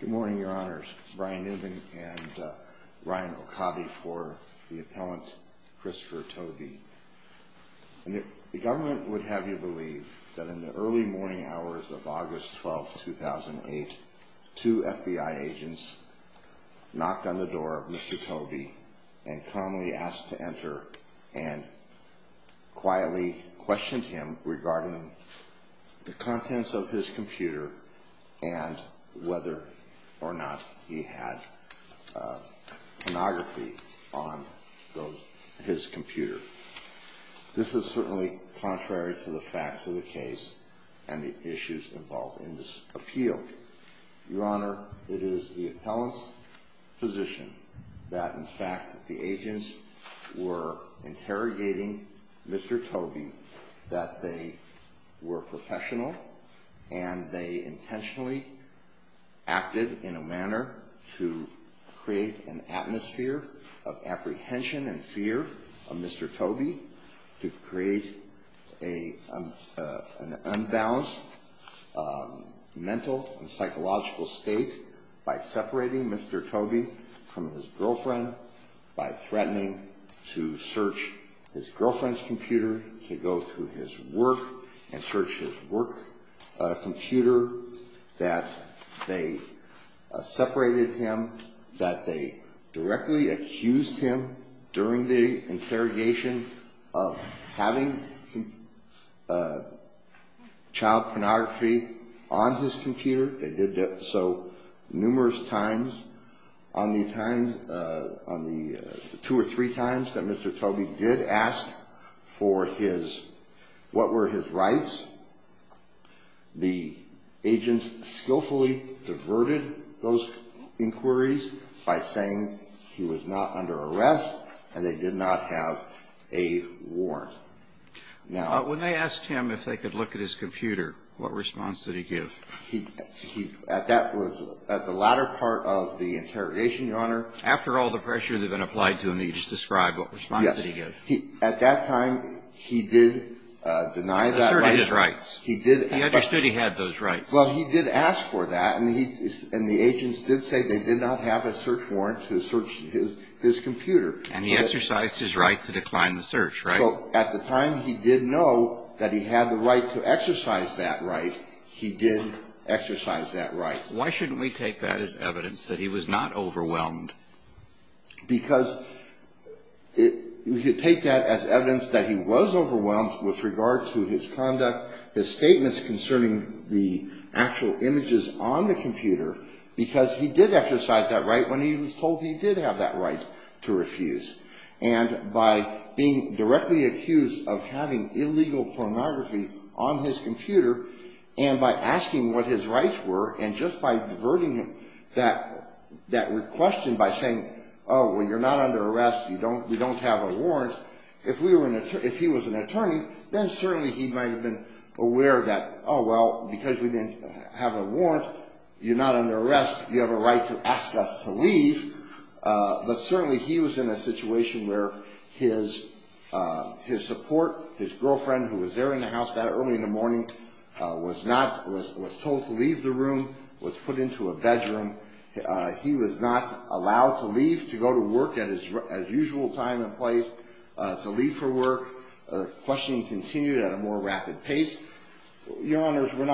Good morning, your honors. Brian Newman and Ryan Okabe for the appellant Christopher Tobie. The government would have you believe that in the early morning hours of August 12, 2008, two FBI agents knocked on the door of Mr. Tobie and calmly asked to enter and quietly questioned him regarding the contents of his computer and whether or not he had pornography on his computer. This is certainly contrary to the facts of the case and the issues involved in this appeal. Your honor, it is the appellant's position that in fact the agents were interrogating Mr. Tobie assuming that they were professional and they intentionally acted in a manner to create an atmosphere of apprehension and fear of Mr. Tobie to create an unbalanced mental and psychological state by separating Mr. Tobie from his girlfriend, by threatening to search his girlfriend's computer, to go through his work and search his work computer, that they separated him, that they directly accused him during the interrogation of having child pornography on his computer. They did that so numerous times. On the time, on the two or three times that Mr. Tobie did ask for his what were his rights, the agents skillfully diverted those inquiries by saying he was not under arrest and they did not have a warrant. Now, when they asked him if they could look at his computer, what response did he give? He at that was at the latter part of the interrogation, your honor. After all the pressure that had been applied to him, he just described what response did he give? Yes. At that time, he did deny that right. He asserted his rights. He did. He understood he had those rights. Well, he did ask for that and the agents did say they did not have a search warrant to search his computer. And he exercised his right to decline the search, right? So at the time, he did know that he had the right to exercise that right. He did exercise that right. Why shouldn't we take that as evidence that he was not overwhelmed? Because we could take that as evidence that he was overwhelmed with regard to his conduct, his statements concerning the actual images on the computer, because he did exercise that right when he was told he did have that right to refuse. And by being directly accused of having illegal pornography on his computer and by asking what his rights were and just by diverting him that question by saying, oh, well, you're not under arrest, you don't have a warrant, if he was an attorney, then certainly he might have been aware that, oh, well, because we didn't have a warrant, you're not under arrest, you have a right to ask us to leave. But certainly he was in a situation where his support, his girlfriend, who was there in the house that early in the morning, was told to leave the room, was put into a bedroom. He was not allowed to leave to go to work at his usual time and place, to leave for work. The questioning continued at a more rapid pace. Your Honors, I'm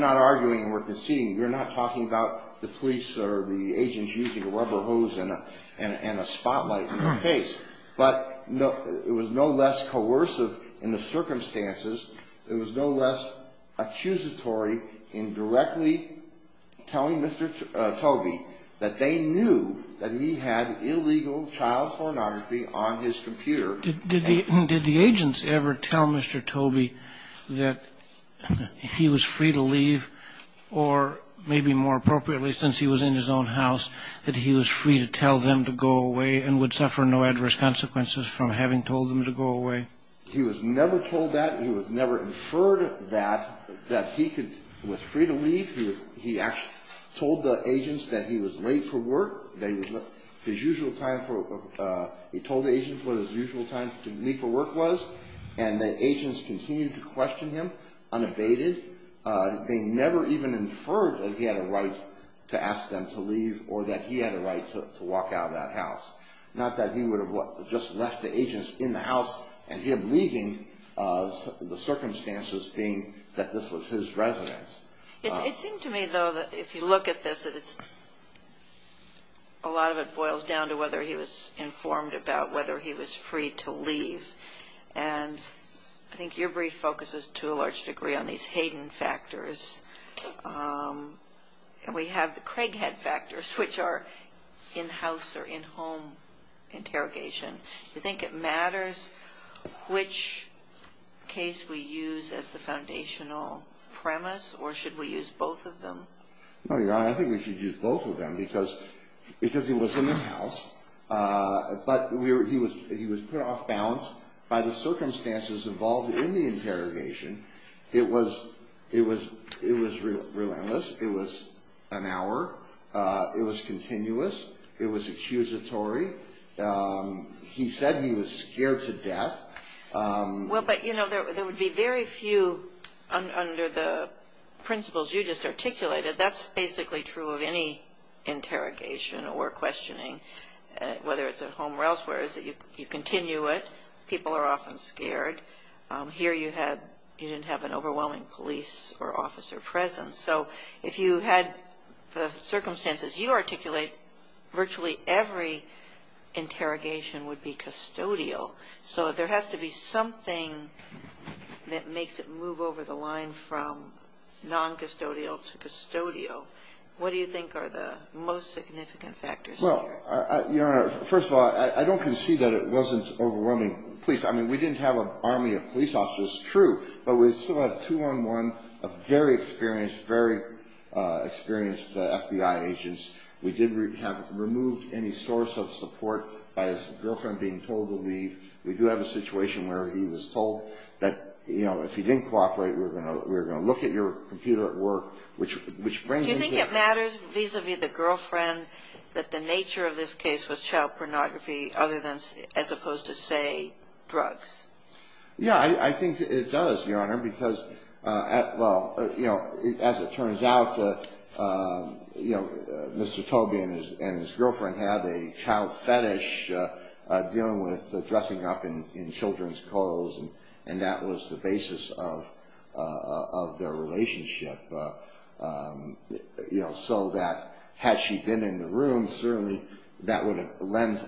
not arguing and we're conceding. You're not talking about the police or the agents using a rubber hose and a spotlight in their face. But it was no less coercive in the circumstances, it was no less accusatory in directly telling Mr. Tobey that they knew that he had illegal child pornography on his computer. Did the agents ever tell Mr. Tobey that he was free to leave, or maybe more appropriately, since he was in his own house, that he was free to tell them to go away and would suffer no adverse consequences from having told them to go away? He was never told that. He was never inferred that, that he was free to leave. He actually told the agents that he was late for work, that his usual time for, he told the agents what his usual time to leave for work was, and the agents continued to question him unabated. They never even inferred that he had a right to ask them to leave or that he had a right to walk out of that house. Not that he would have just left the agents in the house and him leaving, the circumstances being that this was his residence. It seemed to me, though, that if you look at this, that it's, a lot of it boils down to whether he was informed about whether he was free to leave. And I think your brief focuses to a large degree on these Hayden factors. And we have the Craighead factors, which are in-house or in-home interrogation. Do you think it matters which case we use as the foundational premise, or should we use both of them? No, Your Honor, I think we should use both of them because he was in his house, but he was put off balance by the circumstances involved in the interrogation. It was relentless. It was an hour. It was continuous. It was accusatory. He said he was scared to death. Well, but, you know, there would be very few under the principles you just articulated. That's basically true of any interrogation or questioning, whether it's at home or elsewhere, is that you continue it. People are often scared. Here you didn't have an overwhelming police or officer presence. So if you had the circumstances you articulate, virtually every interrogation would be custodial. So there has to be something that makes it move over the line from non-custodial to custodial. What do you think are the most significant factors here? Well, Your Honor, first of all, I don't concede that it wasn't overwhelming police. I mean, we didn't have an army of police officers, true, but we still have two-on-one very experienced FBI agents. We did have removed any source of support by his girlfriend being told to leave. We do have a situation where he was told that, you know, if you didn't cooperate, we were going to look at your computer at work, which brings into the question. Do you think it matters vis-a-vis the girlfriend that the nature of this case was child pornography, as opposed to, say, drugs? Yeah, I think it does, Your Honor, because, well, you know, as it turns out, you know, Mr. Tobey and his girlfriend had a child fetish dealing with dressing up in children's clothes, and that was the basis of their relationship, you know, so that had she been in the room, certainly that would have lent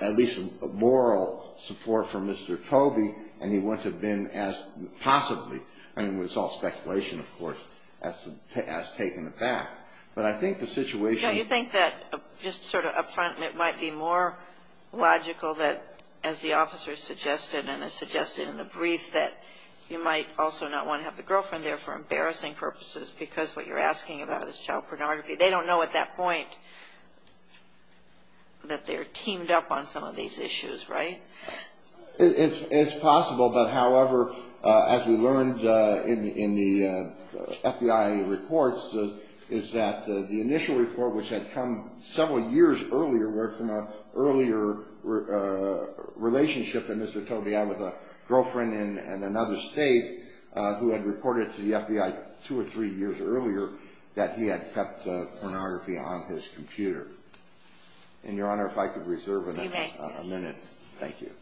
at least a moral support for Mr. Tobey, and he wouldn't have been as possibly. I mean, it's all speculation, of course, as taken aback. But I think the situation… Yeah, you think that just sort of up front it might be more logical that, as the officer suggested and has suggested in the brief, that you might also not want to have the girlfriend there for embarrassing purposes because what you're asking about is child pornography. They don't know at that point that they're teamed up on some of these issues, right? It's possible, but however, as we learned in the FBI reports, is that the initial report, which had come several years earlier, were from an earlier relationship that Mr. Tobey had with a girlfriend in another state who had reported to the FBI two or three years earlier that he had kept pornography on his computer. And, Your Honor, if I could reserve a minute. You may. Thank you.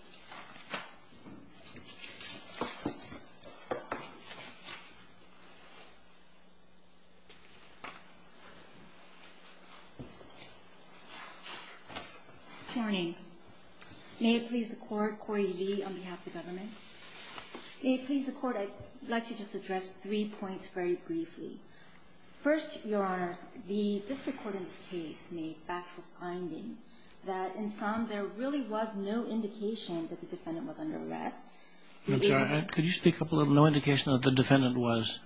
Good morning. May it please the Court, Corey G. on behalf of the government. May it please the Court, I'd like to just address three points very briefly. First, Your Honor, the district court in this case made factual findings that in some there really was no indication that the defendant was under arrest. I'm sorry. Could you speak up a little? No indication that the defendant was?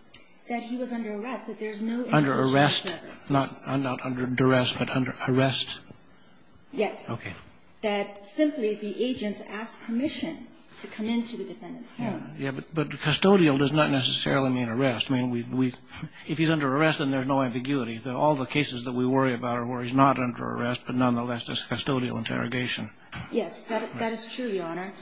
That he was under arrest, that there's no indication that there was. Under arrest? Not under duress, but under arrest? Yes. Okay. That simply the agents asked permission to come into the defendant's home. Yeah. But custodial does not necessarily mean arrest. I mean, if he's under arrest, then there's no ambiguity. All the cases that we worry about are where he's not under arrest, but nonetheless there's custodial interrogation. Yes. That is true, Your Honor.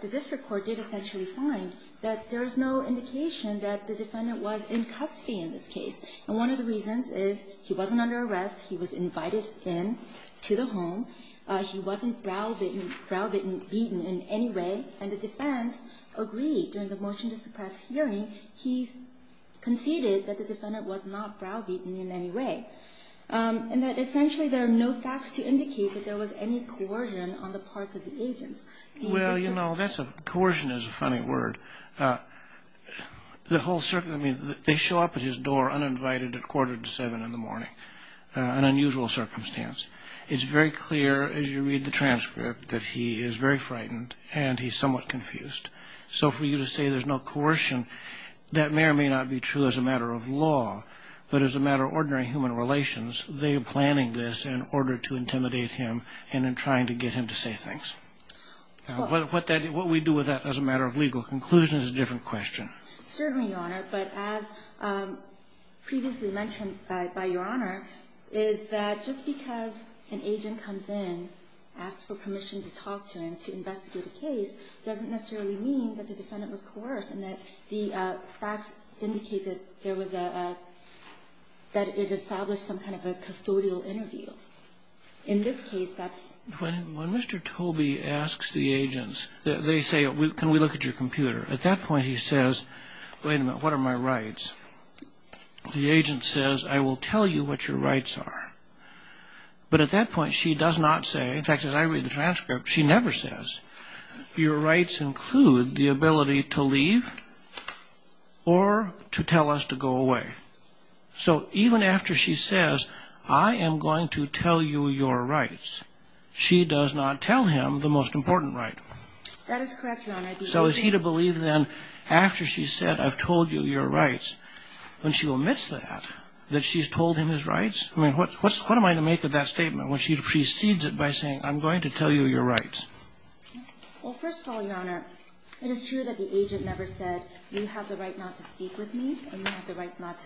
The district court did essentially find that there's no indication that the defendant was in custody in this case. And one of the reasons is he wasn't under arrest, he was invited in to the home, he wasn't browbeaten in any way, and the defense agreed during the motion to suppress hearing, he conceded that the defendant was not browbeaten in any way. And that essentially there are no facts to indicate that there was any coercion on the part of the agents. Well, you know, coercion is a funny word. The whole circumstance, I mean, they show up at his door uninvited at quarter to 7 in the morning, an unusual circumstance. It's very clear as you read the transcript that he is very frightened and he's somewhat confused. So for you to say there's no coercion, that may or may not be true as a matter of law, but as a matter of ordinary human relations, they are planning this in order to intimidate him and in trying to get him to say things. What we do with that as a matter of legal conclusion is a different question. Certainly, Your Honor. But as previously mentioned by Your Honor is that just because an agent comes in, asks for permission to talk to him, to investigate a case, doesn't necessarily mean that the defendant was coerced and that the facts indicate that there was a – that it established some kind of a custodial interview. In this case, that's – When Mr. Tobey asks the agents, they say, can we look at your computer? At that point, he says, wait a minute, what are my rights? The agent says, I will tell you what your rights are. But at that point, she does not say – in fact, as I read the transcript, she never says, your rights include the ability to leave or to tell us to go away. So even after she says, I am going to tell you your rights, she does not tell him the most important right. That is correct, Your Honor. So is he to believe then, after she said, I've told you your rights, when she omits that, that she's told him his rights? I mean, what am I to make of that statement when she precedes it by saying, I'm going to tell you your rights? Well, first of all, Your Honor, it is true that the agent never said, you have the right not to speak with me and you have the right not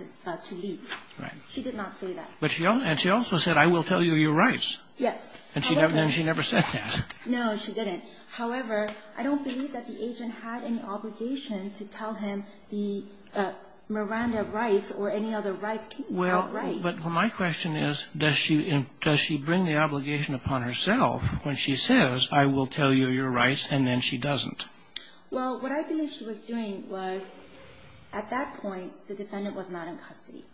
to leave. Right. She did not say that. But she also said, I will tell you your rights. Yes. And she never said that. No, she didn't. However, I don't believe that the agent had any obligation to tell him the Miranda rights or any other rights. Well, but my question is, does she bring the obligation upon herself when she says, I will tell you your rights, and then she doesn't? Well, what I believe she was doing was, at that point, the defendant was not in custody.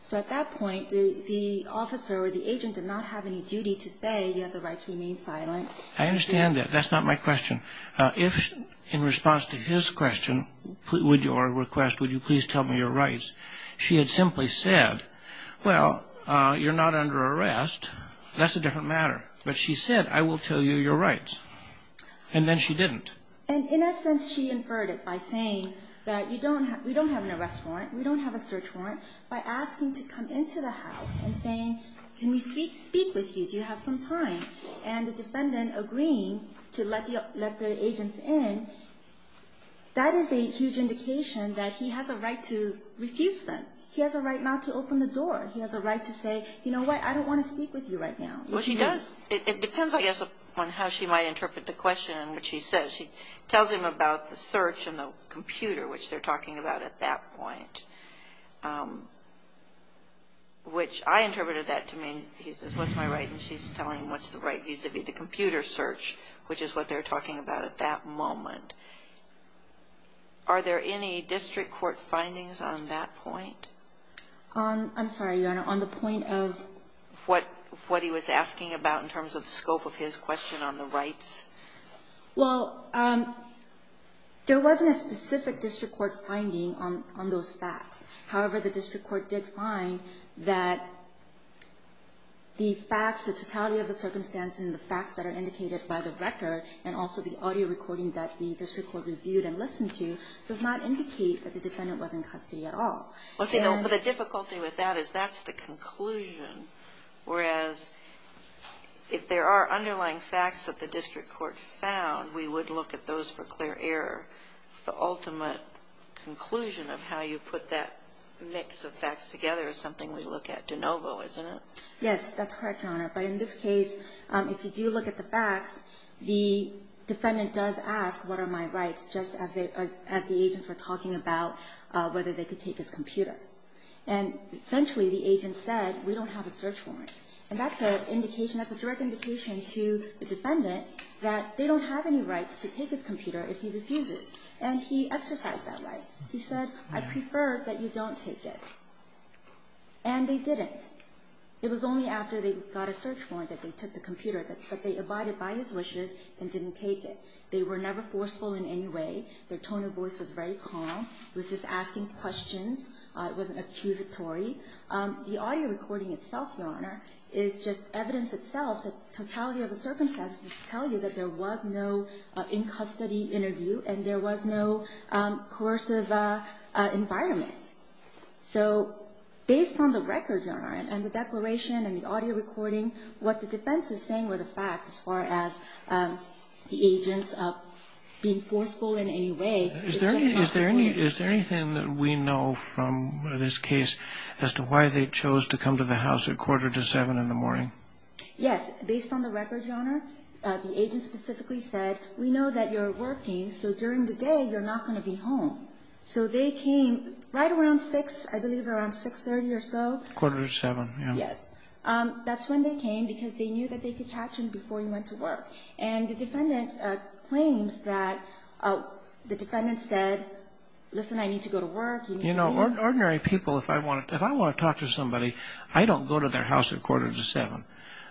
So at that point, the officer or the agent did not have any duty to say, you have the right to remain silent. I understand that. That's not my question. In response to his question, or request, would you please tell me your rights, she had simply said, well, you're not under arrest. That's a different matter. But she said, I will tell you your rights. And then she didn't. And in a sense, she inferred it by saying that we don't have an arrest warrant, we don't have a search warrant, by asking to come into the house and saying, can we speak with you? Do you have some time? And the defendant agreeing to let the agents in, that is a huge indication that he has a right to refuse them. He has a right not to open the door. He has a right to say, you know what, I don't want to speak with you right now. Well, she does. It depends, I guess, on how she might interpret the question in which she says. She tells him about the search and the computer, which they're talking about at that point, which I interpreted that to mean, he says, what's my right? And she's telling him what's the right vis-a-vis the computer search, which is what they're talking about at that moment. Are there any district court findings on that point? I'm sorry, Your Honor, on the point of? What he was asking about in terms of the scope of his question on the rights. Well, there wasn't a specific district court finding on those facts. However, the district court did find that the facts, the totality of the circumstance and the facts that are indicated by the record and also the audio recording that the district court reviewed and listened to does not indicate that the defendant was in custody at all. Well, see, the difficulty with that is that's the conclusion, whereas if there are underlying facts that the district court found, we would look at those for clear error, the ultimate conclusion of how you put that mix of facts together is something we look at de novo, isn't it? Yes, that's correct, Your Honor. But in this case, if you do look at the facts, the defendant does ask what are my rights just as the agents were talking about whether they could take his computer. And essentially the agent said, we don't have a search warrant. And that's an indication, that's a direct indication to the defendant that they don't have any rights to take his computer if he refuses. And he exercised that right. He said, I prefer that you don't take it. And they didn't. It was only after they got a search warrant that they took the computer. But they abided by his wishes and didn't take it. They were never forceful in any way. Their tone of voice was very calm. It was just asking questions. It wasn't accusatory. The audio recording itself, Your Honor, is just evidence itself, the totality of the case. There was no in-custody interview and there was no coercive environment. So based on the record, Your Honor, and the declaration and the audio recording, what the defense is saying were the facts as far as the agents being forceful in any way. Is there anything that we know from this case as to why they chose to come to the house at quarter to 7 in the morning? Yes. Based on the record, Your Honor, the agent specifically said, we know that you're working, so during the day you're not going to be home. So they came right around 6, I believe around 6.30 or so. Quarter to 7, yeah. Yes. That's when they came because they knew that they could catch him before he went to work. And the defendant claims that the defendant said, listen, I need to go to work, you need to leave. You know, ordinary people, if I want to talk to somebody, I don't go to their house at quarter to 7.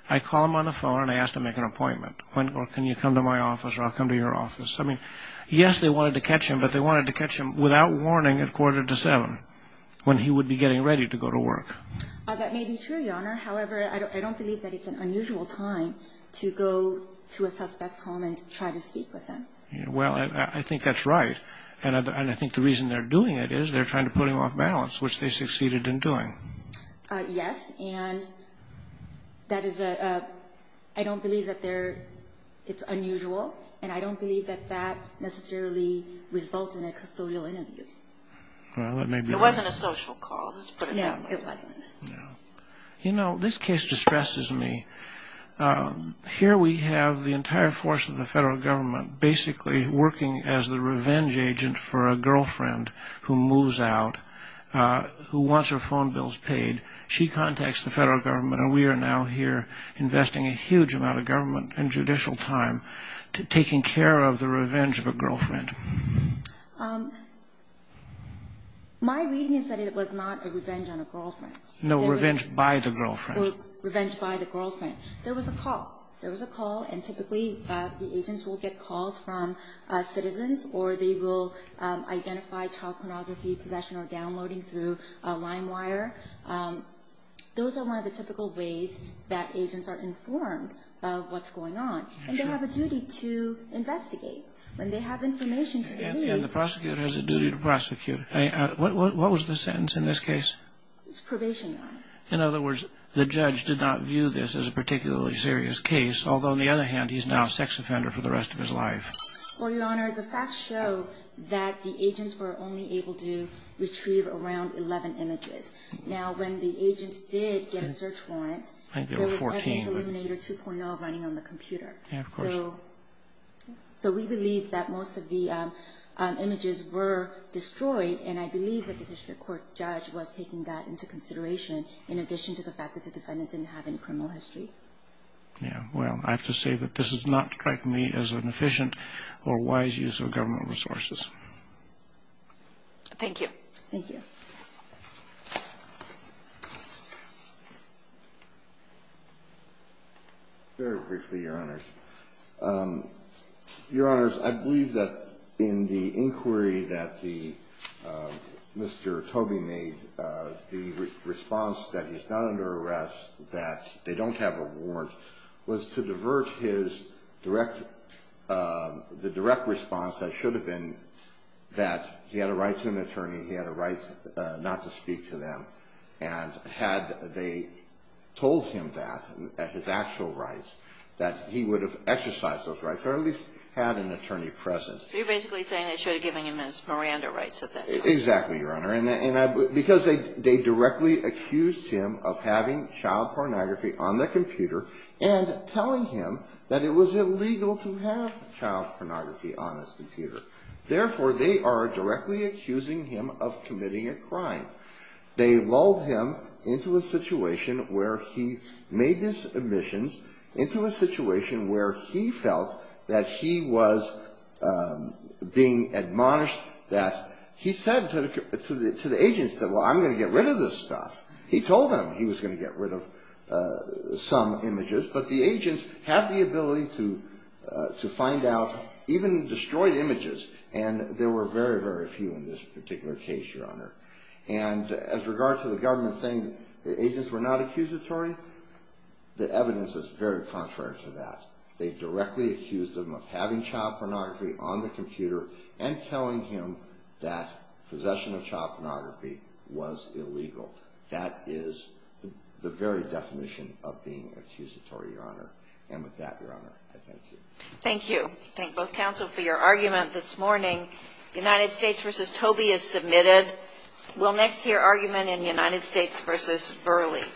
I call them on the phone and I ask to make an appointment or can you come to my office or I'll come to your office. I mean, yes, they wanted to catch him, but they wanted to catch him without warning at quarter to 7 when he would be getting ready to go to work. That may be true, Your Honor. However, I don't believe that it's an unusual time to go to a suspect's home and try to speak with them. Well, I think that's right. And I think the reason they're doing it is they're trying to put him off balance, which they succeeded in doing. Yes, and that is a – I don't believe that they're – it's unusual and I don't believe that that necessarily results in a custodial interview. Well, that may be right. It wasn't a social call, let's put it that way. No, it wasn't. No. You know, this case distresses me. Here we have the entire force of the federal government basically working as the She contacts the federal government, and we are now here investing a huge amount of government and judicial time taking care of the revenge of a girlfriend. My reading is that it was not a revenge on a girlfriend. No, revenge by the girlfriend. Revenge by the girlfriend. There was a call. There was a call, and typically the agents will get calls from citizens or they will identify child pornography, possession or downloading through a line wire. Those are one of the typical ways that agents are informed of what's going on. And they have a duty to investigate. When they have information to delete – And the prosecutor has a duty to prosecute. What was the sentence in this case? It's probation, Your Honor. In other words, the judge did not view this as a particularly serious case, although on the other hand, he's now a sex offender for the rest of his life. Well, Your Honor, the facts show that the agents were only able to retrieve around 11 images. Now, when the agents did get a search warrant, there was evidence illuminator 2.0 running on the computer. Yeah, of course. So we believe that most of the images were destroyed, and I believe that the district court judge was taking that into consideration in addition to the fact that the defendant didn't have any criminal history. Yeah. Well, I have to say that this does not strike me as an efficient or wise use of government resources. Thank you. Thank you. Very briefly, Your Honors. Your Honors, I believe that in the inquiry that the – Mr. Tobey made, the response that he's not under arrest, that they don't have a warrant, was to divert his direct – the direct response that should have been that he had a right to an attorney, he had a right not to speak to them. And had they told him that, his actual rights, that he would have exercised those rights or at least had an attorney present. So you're basically saying they should have given him his Miranda rights at that time. Exactly, Your Honor. And I – because they directly accused him of having child pornography on the computer and telling him that it was illegal to have child pornography on his computer. Therefore, they are directly accusing him of committing a crime. They lulled him into a situation where he made these admissions, into a situation where he felt that he was being admonished, that he said to the agents that, well, I'm going to get rid of this stuff. He told them he was going to get rid of some images. But the agents had the ability to find out, even destroy images. And there were very, very few in this particular case, Your Honor. And as regards to the government saying the agents were not accusatory, the evidence is very contrary to that. They directly accused him of having child pornography on the computer and telling him that possession of child pornography was illegal. That is the very definition of being accusatory, Your Honor. And with that, Your Honor, I thank you. Thank you. Thank both counsel for your argument this morning. United States v. Toby is submitted. We'll next hear argument in United States v. Burley.